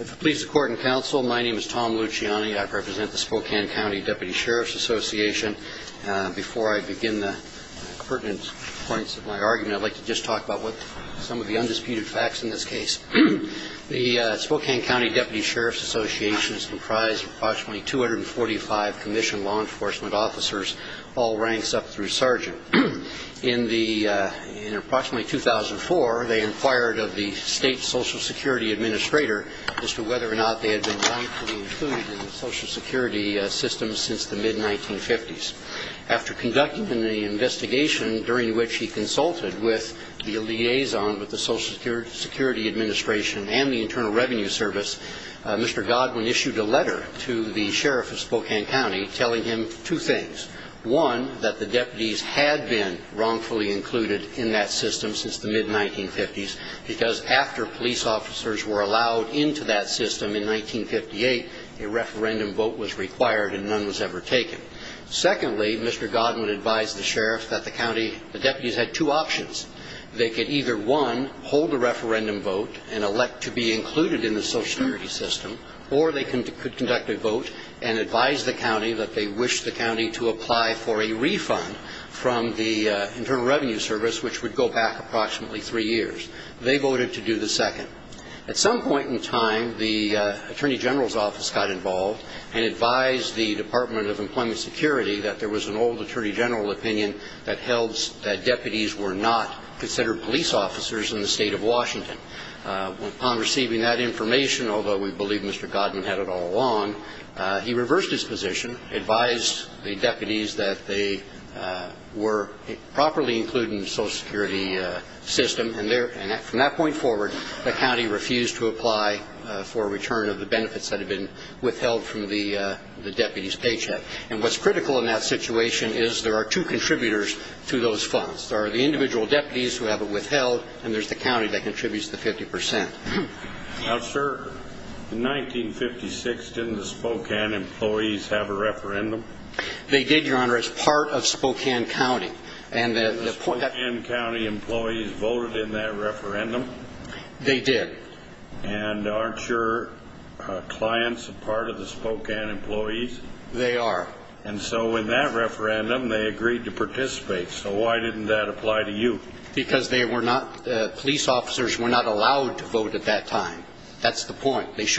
If it pleases the Court and Counsel, my name is Tom Luciani. I represent the Spokane County Deputy Sheriff's Association. Before I begin the pertinent points of my argument, I'd like to just talk about some of the undisputed facts in this case. The Spokane County Deputy Sheriff's Association is comprised of approximately 245 commissioned law enforcement officers, all ranks up through sergeant. In approximately 2004, they inquired of the State Social Security Administrator as to whether or not they had been wrongfully included in the Social Security system since the mid-1950s. After conducting the investigation during which he consulted with the liaison with the Social Security Administration and the Internal Revenue Service, Mr. Godwin issued a letter to the Sheriff of Spokane County telling him two things. One, that the deputies had been wrongfully included in that system since the mid-1950s because after police officers were allowed into that system in 1958, a referendum vote was required and none was ever taken. Secondly, Mr. Godwin advised the Sheriff that the deputies had two options. They could either, one, hold a referendum vote and elect to be included in the Social Security system, or they could conduct a vote and advise the county that they wish the county to apply for a refund from the Internal Revenue Service, which would go back approximately three years. They voted to do the second. At some point in time, the Attorney General's office got involved and advised the Department of Employment Security that there was an old Attorney General opinion that held that deputies were not considered police officers in the state of Washington. Upon receiving that information, although we believe Mr. Godwin had it all along, he reversed his position, advised the deputies that they were properly included in the Social Security system, and from that point forward, the county refused to apply for a return of the benefits that had been withheld from the deputies' paycheck. And what's critical in that situation is there are two contributors to those funds. There are the individual deputies who have it withheld, and there's the county that contributes the 50 percent. Now, sir, in 1956, didn't the Spokane employees have a referendum? They did, Your Honor. It's part of Spokane County. And the Spokane County employees voted in that referendum? They did. And aren't your clients a part of the Spokane employees? They are. And so in that referendum, they agreed to participate. So why didn't that apply to you? Because they were not, police officers were not allowed to vote at that time. That's the point. If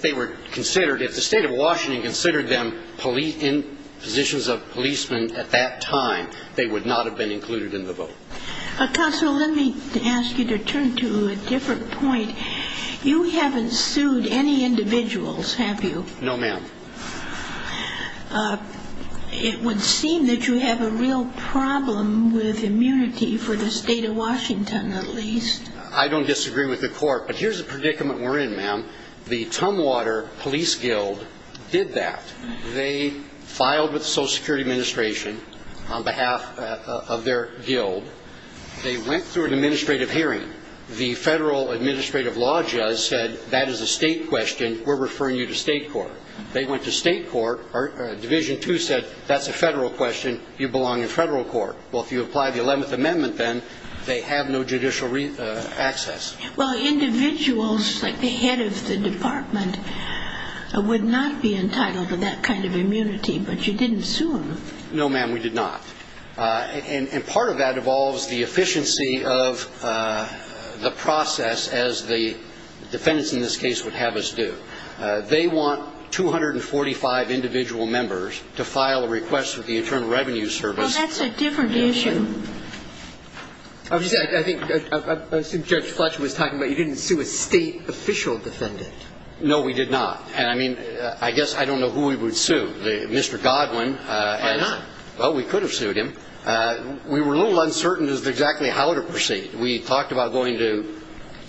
they were considered, if the state of Washington considered them in positions of policemen at that time, they would not have been included in the vote. Counsel, let me ask you to turn to a different point. You haven't sued any individuals, have you? No, ma'am. It would seem that you have a real problem with immunity for the state of Washington, at least. I don't disagree with the court, but here's the predicament we're in, ma'am. The Tumwater Police Guild did that. They filed with the Social Security Administration on behalf of their guild. They went through an administrative hearing. The federal administrative law judge said that is a state question, we're referring you to state court. They went to state court, or Division II said that's a federal question, you belong in federal court. Well, if you don't belong in federal court, you have no judicial access. Well, individuals like the head of the department would not be entitled to that kind of immunity, but you didn't sue them. No, ma'am, we did not. And part of that involves the efficiency of the process as the defendants in this case would have us do. They want 245 individual members to file a request with the Internal Revenue Service. Well, that's a different issue. I was going to say, I think, I assume Judge Fletcher was talking about you didn't sue a state official defendant. No, we did not. And, I mean, I guess I don't know who we would sue. Mr. Godwin. Why not? Well, we could have sued him. We were a little uncertain as to exactly how to proceed. We talked about going to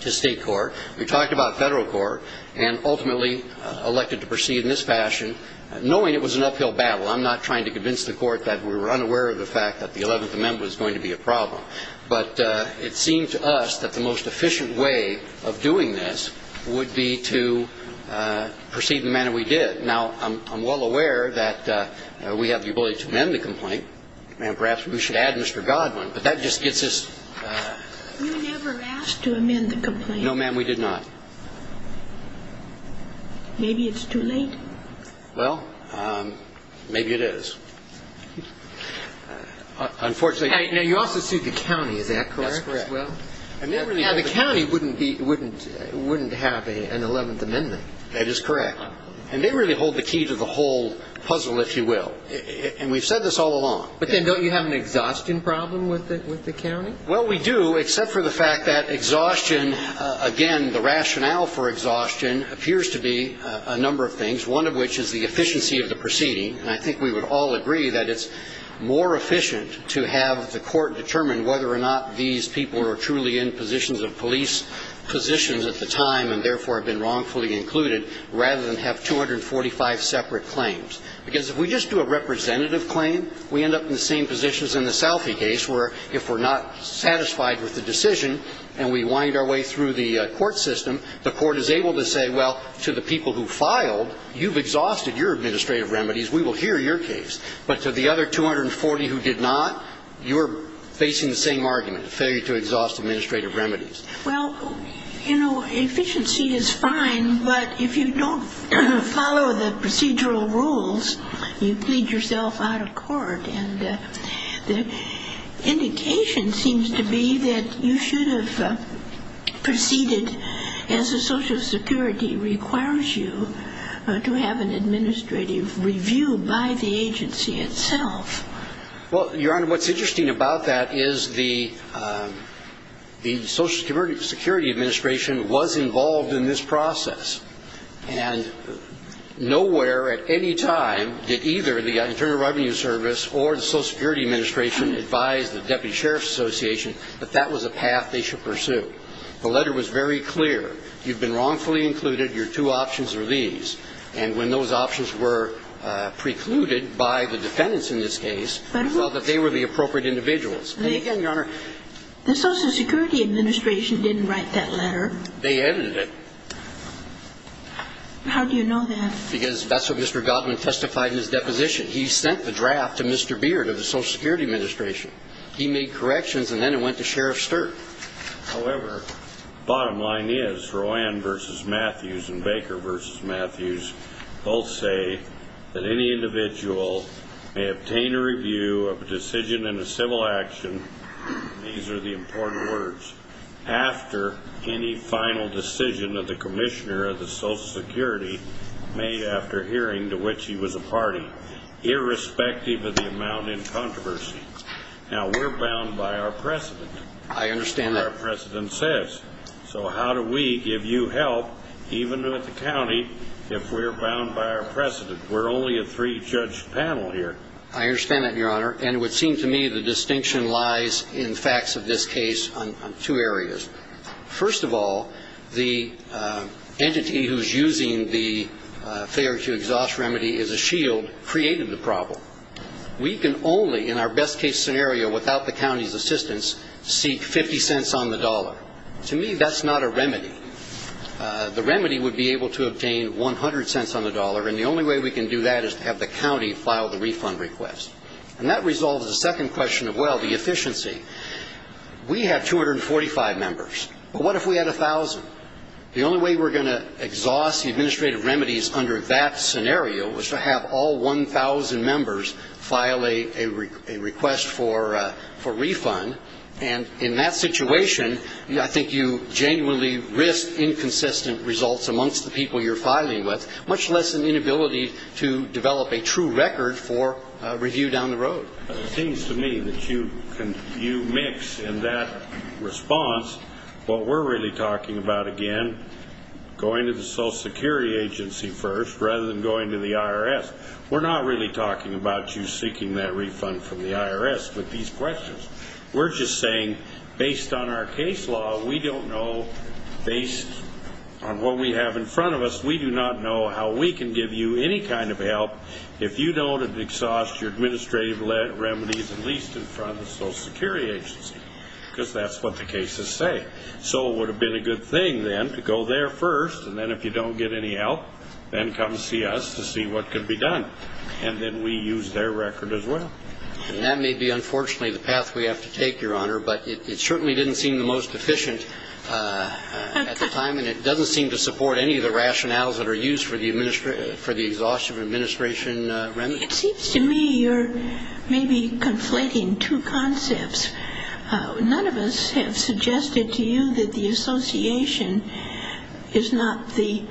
state court, we talked about federal court, and ultimately elected to proceed in this fashion, knowing it was an uphill battle. I'm not trying to convince the court that we were unaware of the fact that the Eleventh Amendment was going to be a problem. But it seemed to us that the most efficient way of doing this would be to proceed the manner we did. Now, I'm well aware that we have the ability to amend the complaint. And perhaps we should add Mr. Godwin. But that just gets us... You never asked to amend the complaint. No, ma'am, we did not. Maybe it's too late. Well, maybe it is. Unfortunately... Now, you also sued the county. Is that correct? That's correct. Now, the county wouldn't have an Eleventh Amendment. That is correct. And they really hold the key to the whole puzzle, if you will. And we've said this all along. But then don't you have an exhaustion problem with the county? Well, we do, except for the fact that exhaustion, again, the rationale for exhaustion appears to be a number of things, one of which is the efficiency of the proceeding. And I think we would all agree that it's more efficient to have the court determine whether or not these people were truly in positions of police positions at the time and therefore have been wrongfully included, rather than have 245 separate claims. Because if we just do a representative claim, we end up in the same positions in the Salphy case, where if we're not satisfied with the decision and we wind our way through the court system, the court is able to say, well, to the people who filed, you've exhausted your administrative remedies. We will hear your case. But to the other 240 who did not, you're facing the same argument, failure to exhaust administrative remedies. Well, you know, efficiency is fine, but if you don't follow the procedural rules, you plead yourself out of court. And the indication seems to be that you should have proceeded as the Social Security requires you to have an administrative review by the agency itself. Well, Your Honor, what's interesting about that is the Social Security Administration was involved in this process. And nowhere at any time did either the Internal Revenue Service or the Social Security Administration advise the Deputy Sheriff's Association that that was a path they should pursue. The letter was very clear. You've been wrongfully included. Your two options are these. And when those options were precluded by the defendants in this case, we thought that they were the appropriate individuals. And again, Your Honor, the Social Security Administration didn't write that letter. They edited it. How do you know that? Because that's what Mr. Goldman testified in his deposition. He sent the draft to Mr. Beard of the Social Security Administration. He made corrections, and then it went to Sheriff Sturt. However, the bottom line is, Roanne v. Matthews and Baker v. Matthews both say that any individual may obtain a review of a decision in a civil action, these are the important words, after any final decision of the Commissioner of the Social Security made after hearing to which she was a party, irrespective of the amount in controversy. Now, we're bound by our precedent. I understand that. What our precedent says. So how do we give you help, even with the county, if we're bound by our precedent? We're only a three-judge panel here. I understand that, Your Honor. And it would seem to me the distinction lies in facts of this case on two areas. First of all, the entity who's using the failure to exhaust remedy as a shield created the problem. We can only, in our best-case scenario, without the county's assistance, seek 50 cents on the dollar. To me, that's not a remedy. The remedy would be able to obtain 100 cents on the dollar, and the only way we can do that is to have the county file the refund request. And that resolves the second question of, well, the efficiency. We have 245 members, but what if we had 1,000? The only way we're going to exhaust the administrative remedies under that scenario was to have all 1,000 members file a request for refund. And in that situation, I think you genuinely risk inconsistent results amongst the people you're filing with, much less an inability to develop a true record for review down the road. It seems to me that you mix in that response what we're really talking about again, going to the Social Security Agency first rather than going to the IRS. We're not really talking about you seeking that refund from the IRS with these questions. We're just saying, based on our case law, we don't know, based on what we have in front of us, we do not know how we can give you any kind of help if you don't exhaust your administrative remedies at least in front of the Social Security Agency because that's what the cases say. So it would have been a good thing, then, to go there first, and then if you don't get any help, then come see us to see what can be done. And then we use their record as well. And that may be, unfortunately, the path we have to take, Your Honor, but it certainly didn't seem the most efficient at the time, and it doesn't seem to support any of the rationales that are used for the exhaustion of administration remedies. It seems to me you're maybe conflating two concepts. None of us have suggested to you that the association is not the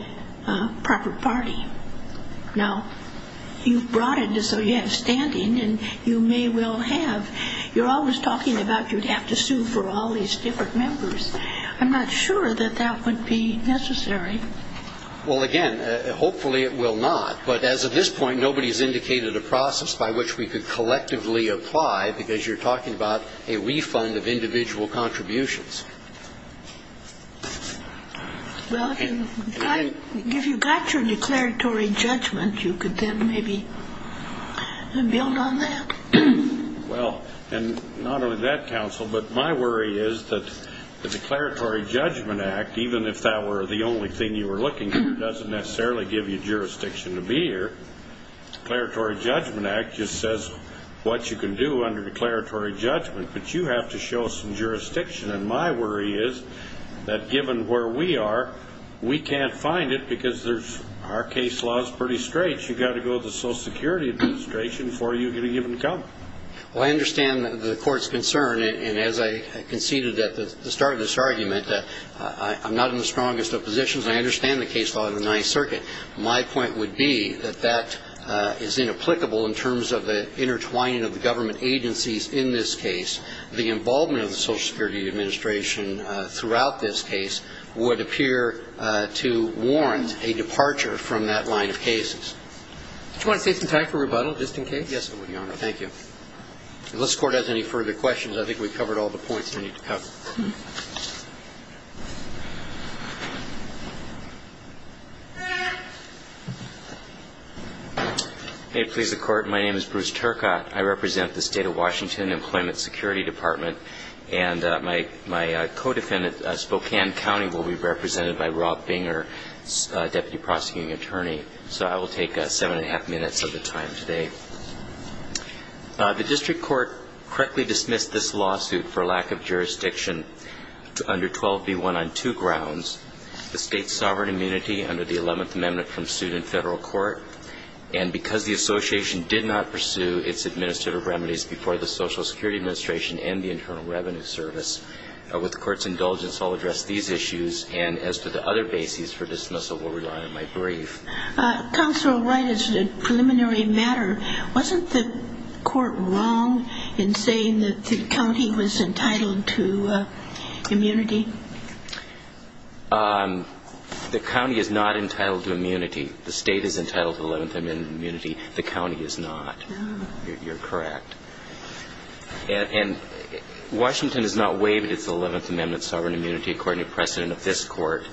proper party. Now, you've brought it so you have standing, and you may well have. You're always talking about you'd have to sue for all these different members. I'm not sure that that would be necessary. Well, again, hopefully it will not. But as of this point, nobody has indicated a process by which we could collectively apply because you're talking about a refund of individual contributions. Well, if you've got your declaratory judgment, you could then maybe build on that. Well, and not only that, counsel, but my worry is that the Declaratory Judgment Act, even if that were the only thing you were looking for, doesn't necessarily give you jurisdiction to be here. The Declaratory Judgment Act just says what you can do under declaratory judgment, but you have to show some jurisdiction. And my worry is that given where we are, we can't find it because our case law is pretty straight. I guess you've got to go to the Social Security Administration before you can even come. Well, I understand the court's concern. And as I conceded at the start of this argument, I'm not in the strongest of positions. I understand the case law of the Ninth Circuit. My point would be that that is inapplicable in terms of the intertwining of the government agencies in this case. The involvement of the Social Security Administration throughout this case would appear to warrant a departure from that line of cases. Do you want to take some time for rebuttal just in case? Yes, Your Honor. Thank you. Unless the Court has any further questions, I think we've covered all the points we need to cover. May it please the Court, my name is Bruce Turcott. I represent the State of Washington Employment Security Department. And my co-defendant, Spokane County, will be represented by Rob Binger, Deputy Prosecuting Attorney. So I will take seven and a half minutes of the time today. The district court correctly dismissed this lawsuit for lack of jurisdiction under 12b1 on two grounds, the state's sovereign immunity under the 11th Amendment from suit in federal court, and because the association did not pursue its administrative remedies before the Social Security Administration and the Internal Revenue Service, with the Court's indulgence, I'll address these issues. And as to the other bases for dismissal, we'll rely on my brief. Counselor Wright, as a preliminary matter, wasn't the court wrong in saying that the county was entitled to immunity? The county is not entitled to immunity. The state is entitled to 11th Amendment immunity. The county is not. You're correct. And Washington has not waived its 11th Amendment sovereign immunity according to precedent of this court.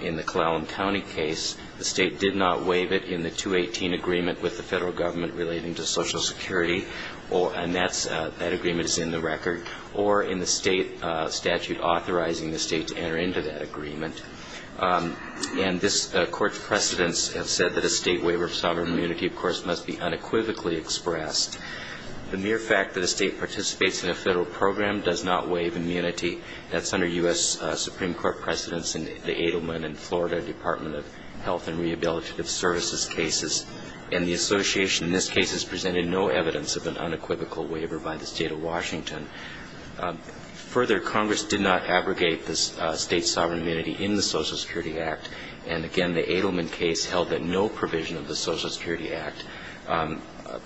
In the Clallam County case, the state did not waive it in the 218 agreement with the federal government relating to Social Security, and that agreement is in the record, And this court's precedents have said that a state waiver of sovereign immunity, of course, must be unequivocally expressed. The mere fact that a state participates in a federal program does not waive immunity. That's under U.S. Supreme Court precedents in the Edelman and Florida Department of Health and Rehabilitative Services cases. And the association in this case has presented no evidence of an unequivocal waiver by the state of Washington. Further, Congress did not abrogate the state sovereign immunity in the Social Security Act, and again, the Edelman case held that no provision of the Social Security Act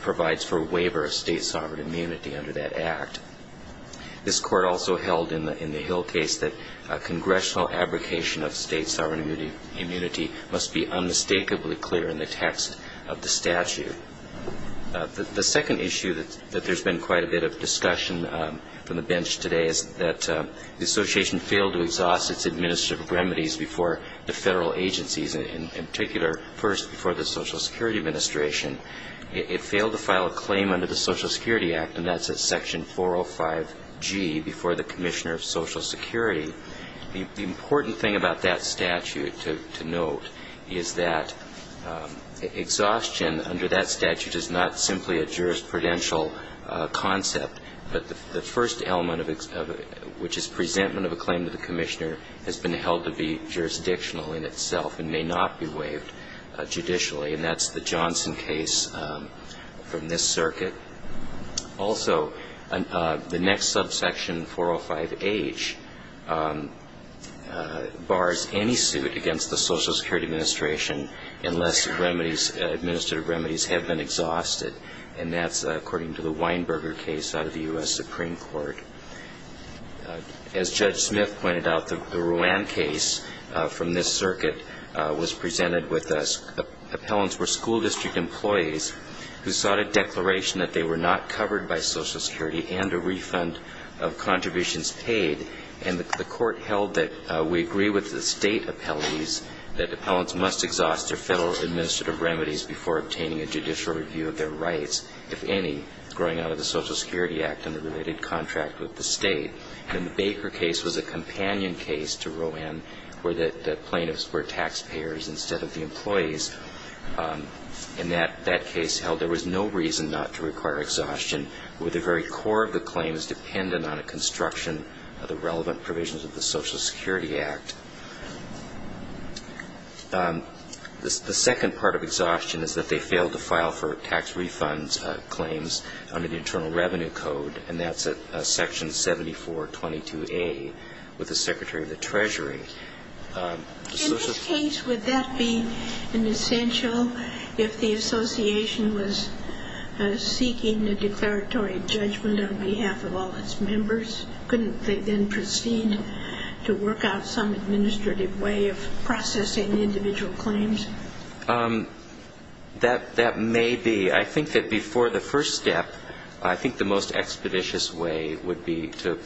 provides for a waiver of state sovereign immunity under that act. This court also held in the Hill case that a congressional abrogation of state sovereign immunity must be unmistakably clear in the text of the statute. The second issue that there's been quite a bit of discussion from the bench today is that the association failed to exhaust its administrative remedies before the federal agencies, in particular, first before the Social Security Administration. It failed to file a claim under the Social Security Act, and that's at Section 405G, before the Commissioner of Social Security. The important thing about that statute to note is that exhaustion under that statute is not simply a jurisprudential concept, but the first element of it, which is presentment of a claim to the Commissioner, has been held to be jurisdictional in itself and may not be waived judicially, and that's the Johnson case from this circuit. Also, the next subsection, 405H, bars any suit against the Social Security Administration unless administrative remedies have been exhausted, and that's according to the Weinberger case out of the U.S. Supreme Court. As Judge Smith pointed out, the Ruan case from this circuit was presented with appellants who were school district employees who sought a declaration that they were not covered by Social Security and a refund of contributions paid, and the court held that we agree with the state appellees that appellants must exhaust their federal administrative remedies before obtaining a judicial review of their rights, if any, growing out of the Social Security Act and the related contract with the state. And the Baker case was a companion case to Ruan where the plaintiffs were taxpayers instead of the employees, and that case held there was no reason not to require exhaustion where the very core of the claim is dependent on a construction of the relevant provisions of the Social Security Act. The second part of exhaustion is that they failed to file for tax refund claims under the Internal Revenue Code, and that's at Section 7422A with the Secretary of the Treasury. In this case, would that be an essential if the association was seeking a declaratory judgment on behalf of all its members? Couldn't they then proceed to work out some administrative way of processing individual claims? That may be. I think that before the first step, I think the most expeditious way would be to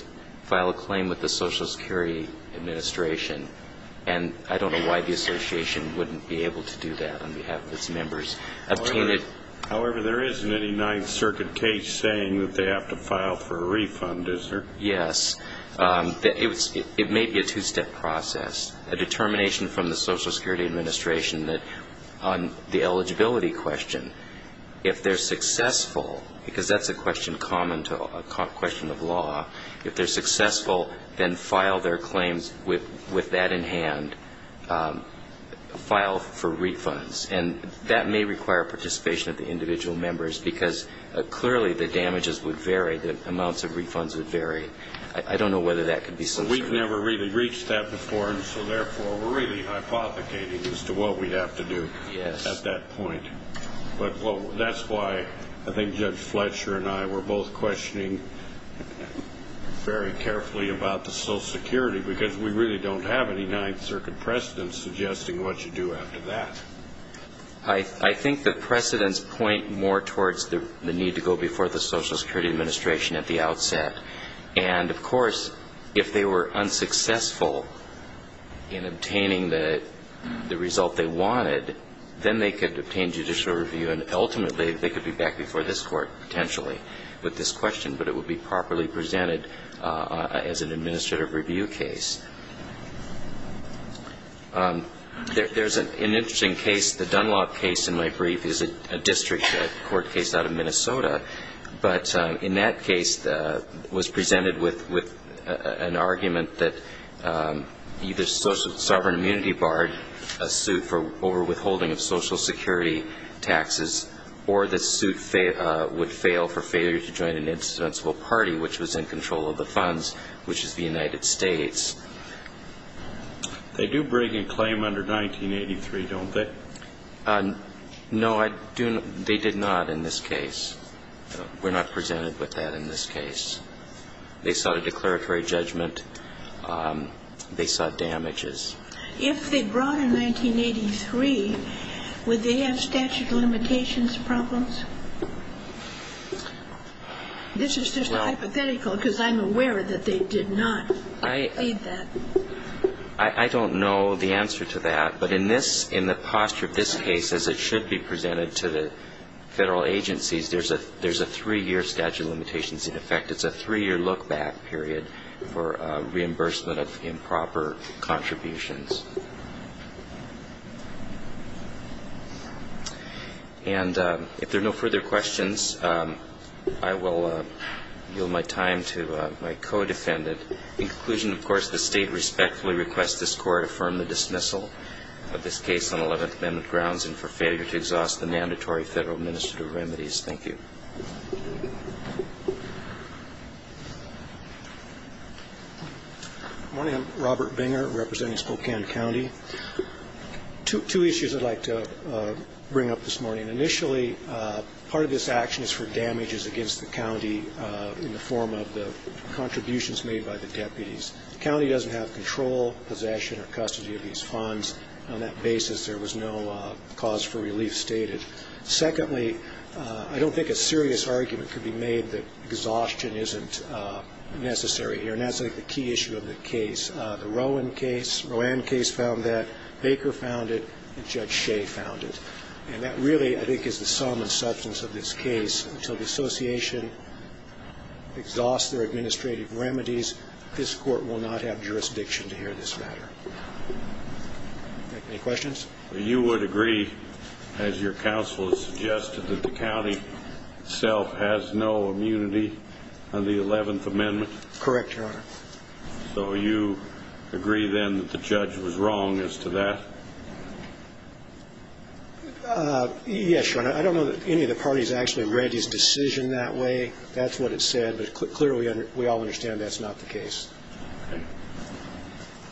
file a claim with the Social Security Administration, and I don't know why the association wouldn't be able to do that on behalf of its members. However, there isn't any Ninth Circuit case saying that they have to file for a refund, is there? Yes. It may be a two-step process, a determination from the Social Security Administration that on the eligibility question, if they're successful, because that's a question common to a question of law, if they're successful, then file their claims with that in hand, file for refunds. And that may require participation of the individual members, because clearly the damages would vary, the amounts of refunds would vary. I don't know whether that could be censored. We've never really reached that before, and so therefore we're really hypothecating as to what we'd have to do at that point. But that's why I think Judge Fletcher and I were both questioning very carefully about the Social Security, because we really don't have any Ninth Circuit precedents suggesting what you do after that. I think the precedents point more towards the need to go before the Social Security Administration at the outset. And, of course, if they were unsuccessful in obtaining the result they wanted, then they could obtain judicial review, and ultimately they could be back before this Court potentially with this question, but it would be properly presented as an administrative review case. There's an interesting case, the Dunlop case in my brief is a district court case out of Minnesota, but in that case was presented with an argument that either Sovereign Immunity barred a suit for overwithholding of Social Security taxes, or the suit would fail for failure to join an insensible party, which was in control of the funds, which is the United States. They do bring a claim under 1983, don't they? No, they did not in this case. We're not presented with that in this case. They sought a declaratory judgment. They sought damages. If they brought in 1983, would they have statute of limitations problems? This is just hypothetical because I'm aware that they did not. I don't know the answer to that. But in this, in the posture of this case as it should be presented to the Federal agencies, there's a three-year statute of limitations in effect. It's a three-year look-back period for reimbursement of improper contributions. And if there are no further questions, I will yield my time to my co-defendant. In conclusion, of course, the State respectfully requests this Court affirm the dismissal of this case and for failure to exhaust the mandatory Federal administrative remedies. Thank you. Good morning. I'm Robert Binger representing Spokane County. Two issues I'd like to bring up this morning. Initially, part of this action is for damages against the county in the form of the contributions made by the deputies. The county doesn't have control, possession, or custody of these funds. On that basis, there was no cause for relief stated. Secondly, I don't think a serious argument could be made that exhaustion isn't necessary here. And that's, I think, the key issue of the case. The Rowan case, Rowan case found that, Baker found it, and Judge Shea found it. And that really, I think, is the sum and substance of this case. So the association exhausts their administrative remedies. This Court will not have jurisdiction to hear this matter. Any questions? You would agree, as your counsel has suggested, that the county itself has no immunity under the Eleventh Amendment? Correct, Your Honor. So you agree, then, that the judge was wrong as to that? Yes, Your Honor. I don't know that any of the parties actually read his decision that way. That's what it said. But clearly, we all understand that's not the case.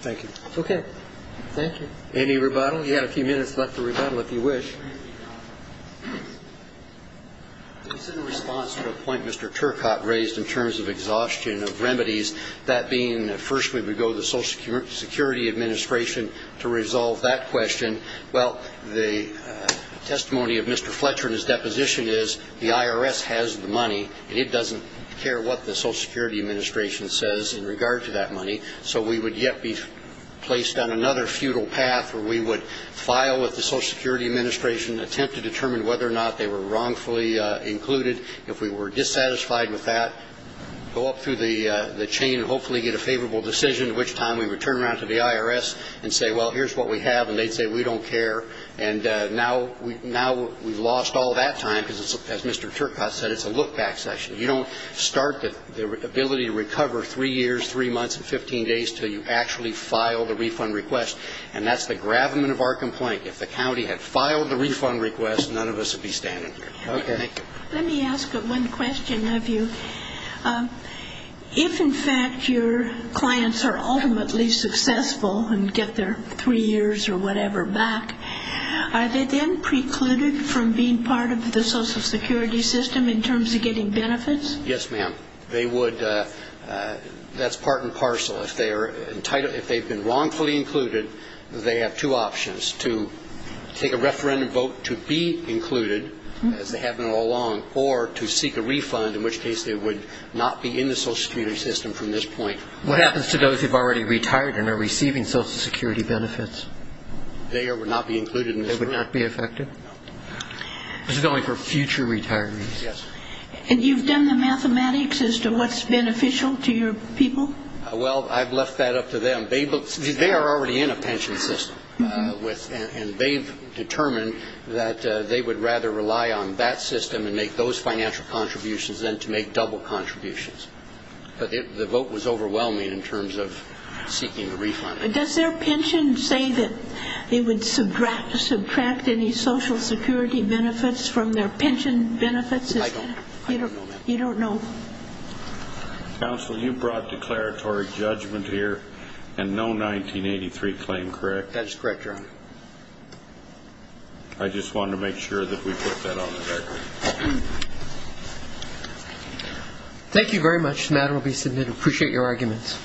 Thank you. Okay. Thank you. Any rebuttal? You have a few minutes left for rebuttal, if you wish. It's in response to a point Mr. Turcotte raised in terms of exhaustion of remedies, that being, first, we would go to the Social Security Administration to resolve that question. Well, the testimony of Mr. Fletcher in his deposition is the IRS has the money, and it doesn't care what the Social Security Administration says in regard to that money. So we would yet be placed on another futile path where we would file with the Social Security Administration, attempt to determine whether or not they were wrongfully included. If we were dissatisfied with that, go up through the chain and hopefully get a favorable decision at which time we would turn around to the IRS and say, well, here's what we have, and they'd say we don't care. And now we've lost all that time because, as Mr. Turcotte said, it's a look-back session. You don't start the ability to recover three years, three months, and 15 days until you actually file the refund request. And that's the gravamen of our complaint. If the county had filed the refund request, none of us would be standing here. Okay. Thank you. Let me ask one question of you. If, in fact, your clients are ultimately successful and get their three years or whatever back, are they then precluded from being part of the Social Security system in terms of getting benefits? Yes, ma'am. They would. That's part and parcel. If they've been wrongfully included, they have two options, to take a referendum vote to be included, as they have been all along, or to seek a refund, in which case they would not be in the Social Security system from this point. What happens to those who have already retired and are receiving Social Security benefits? They would not be included in this refund. They would not be affected? No. This is only for future retirees. Yes. And you've done the mathematics as to what's beneficial to your people? Well, I've left that up to them. They are already in a pension system, and they've determined that they would rather rely on that system and make those financial contributions than to make double contributions. But the vote was overwhelming in terms of seeking a refund. Does their pension say that it would subtract any Social Security benefits from their pension benefits? I don't know, ma'am. You don't know? Counsel, you brought declaratory judgment here and no 1983 claim, correct? That's correct, Your Honor. I just wanted to make sure that we put that on the record. Thank you very much. The matter will be submitted. I appreciate your arguments.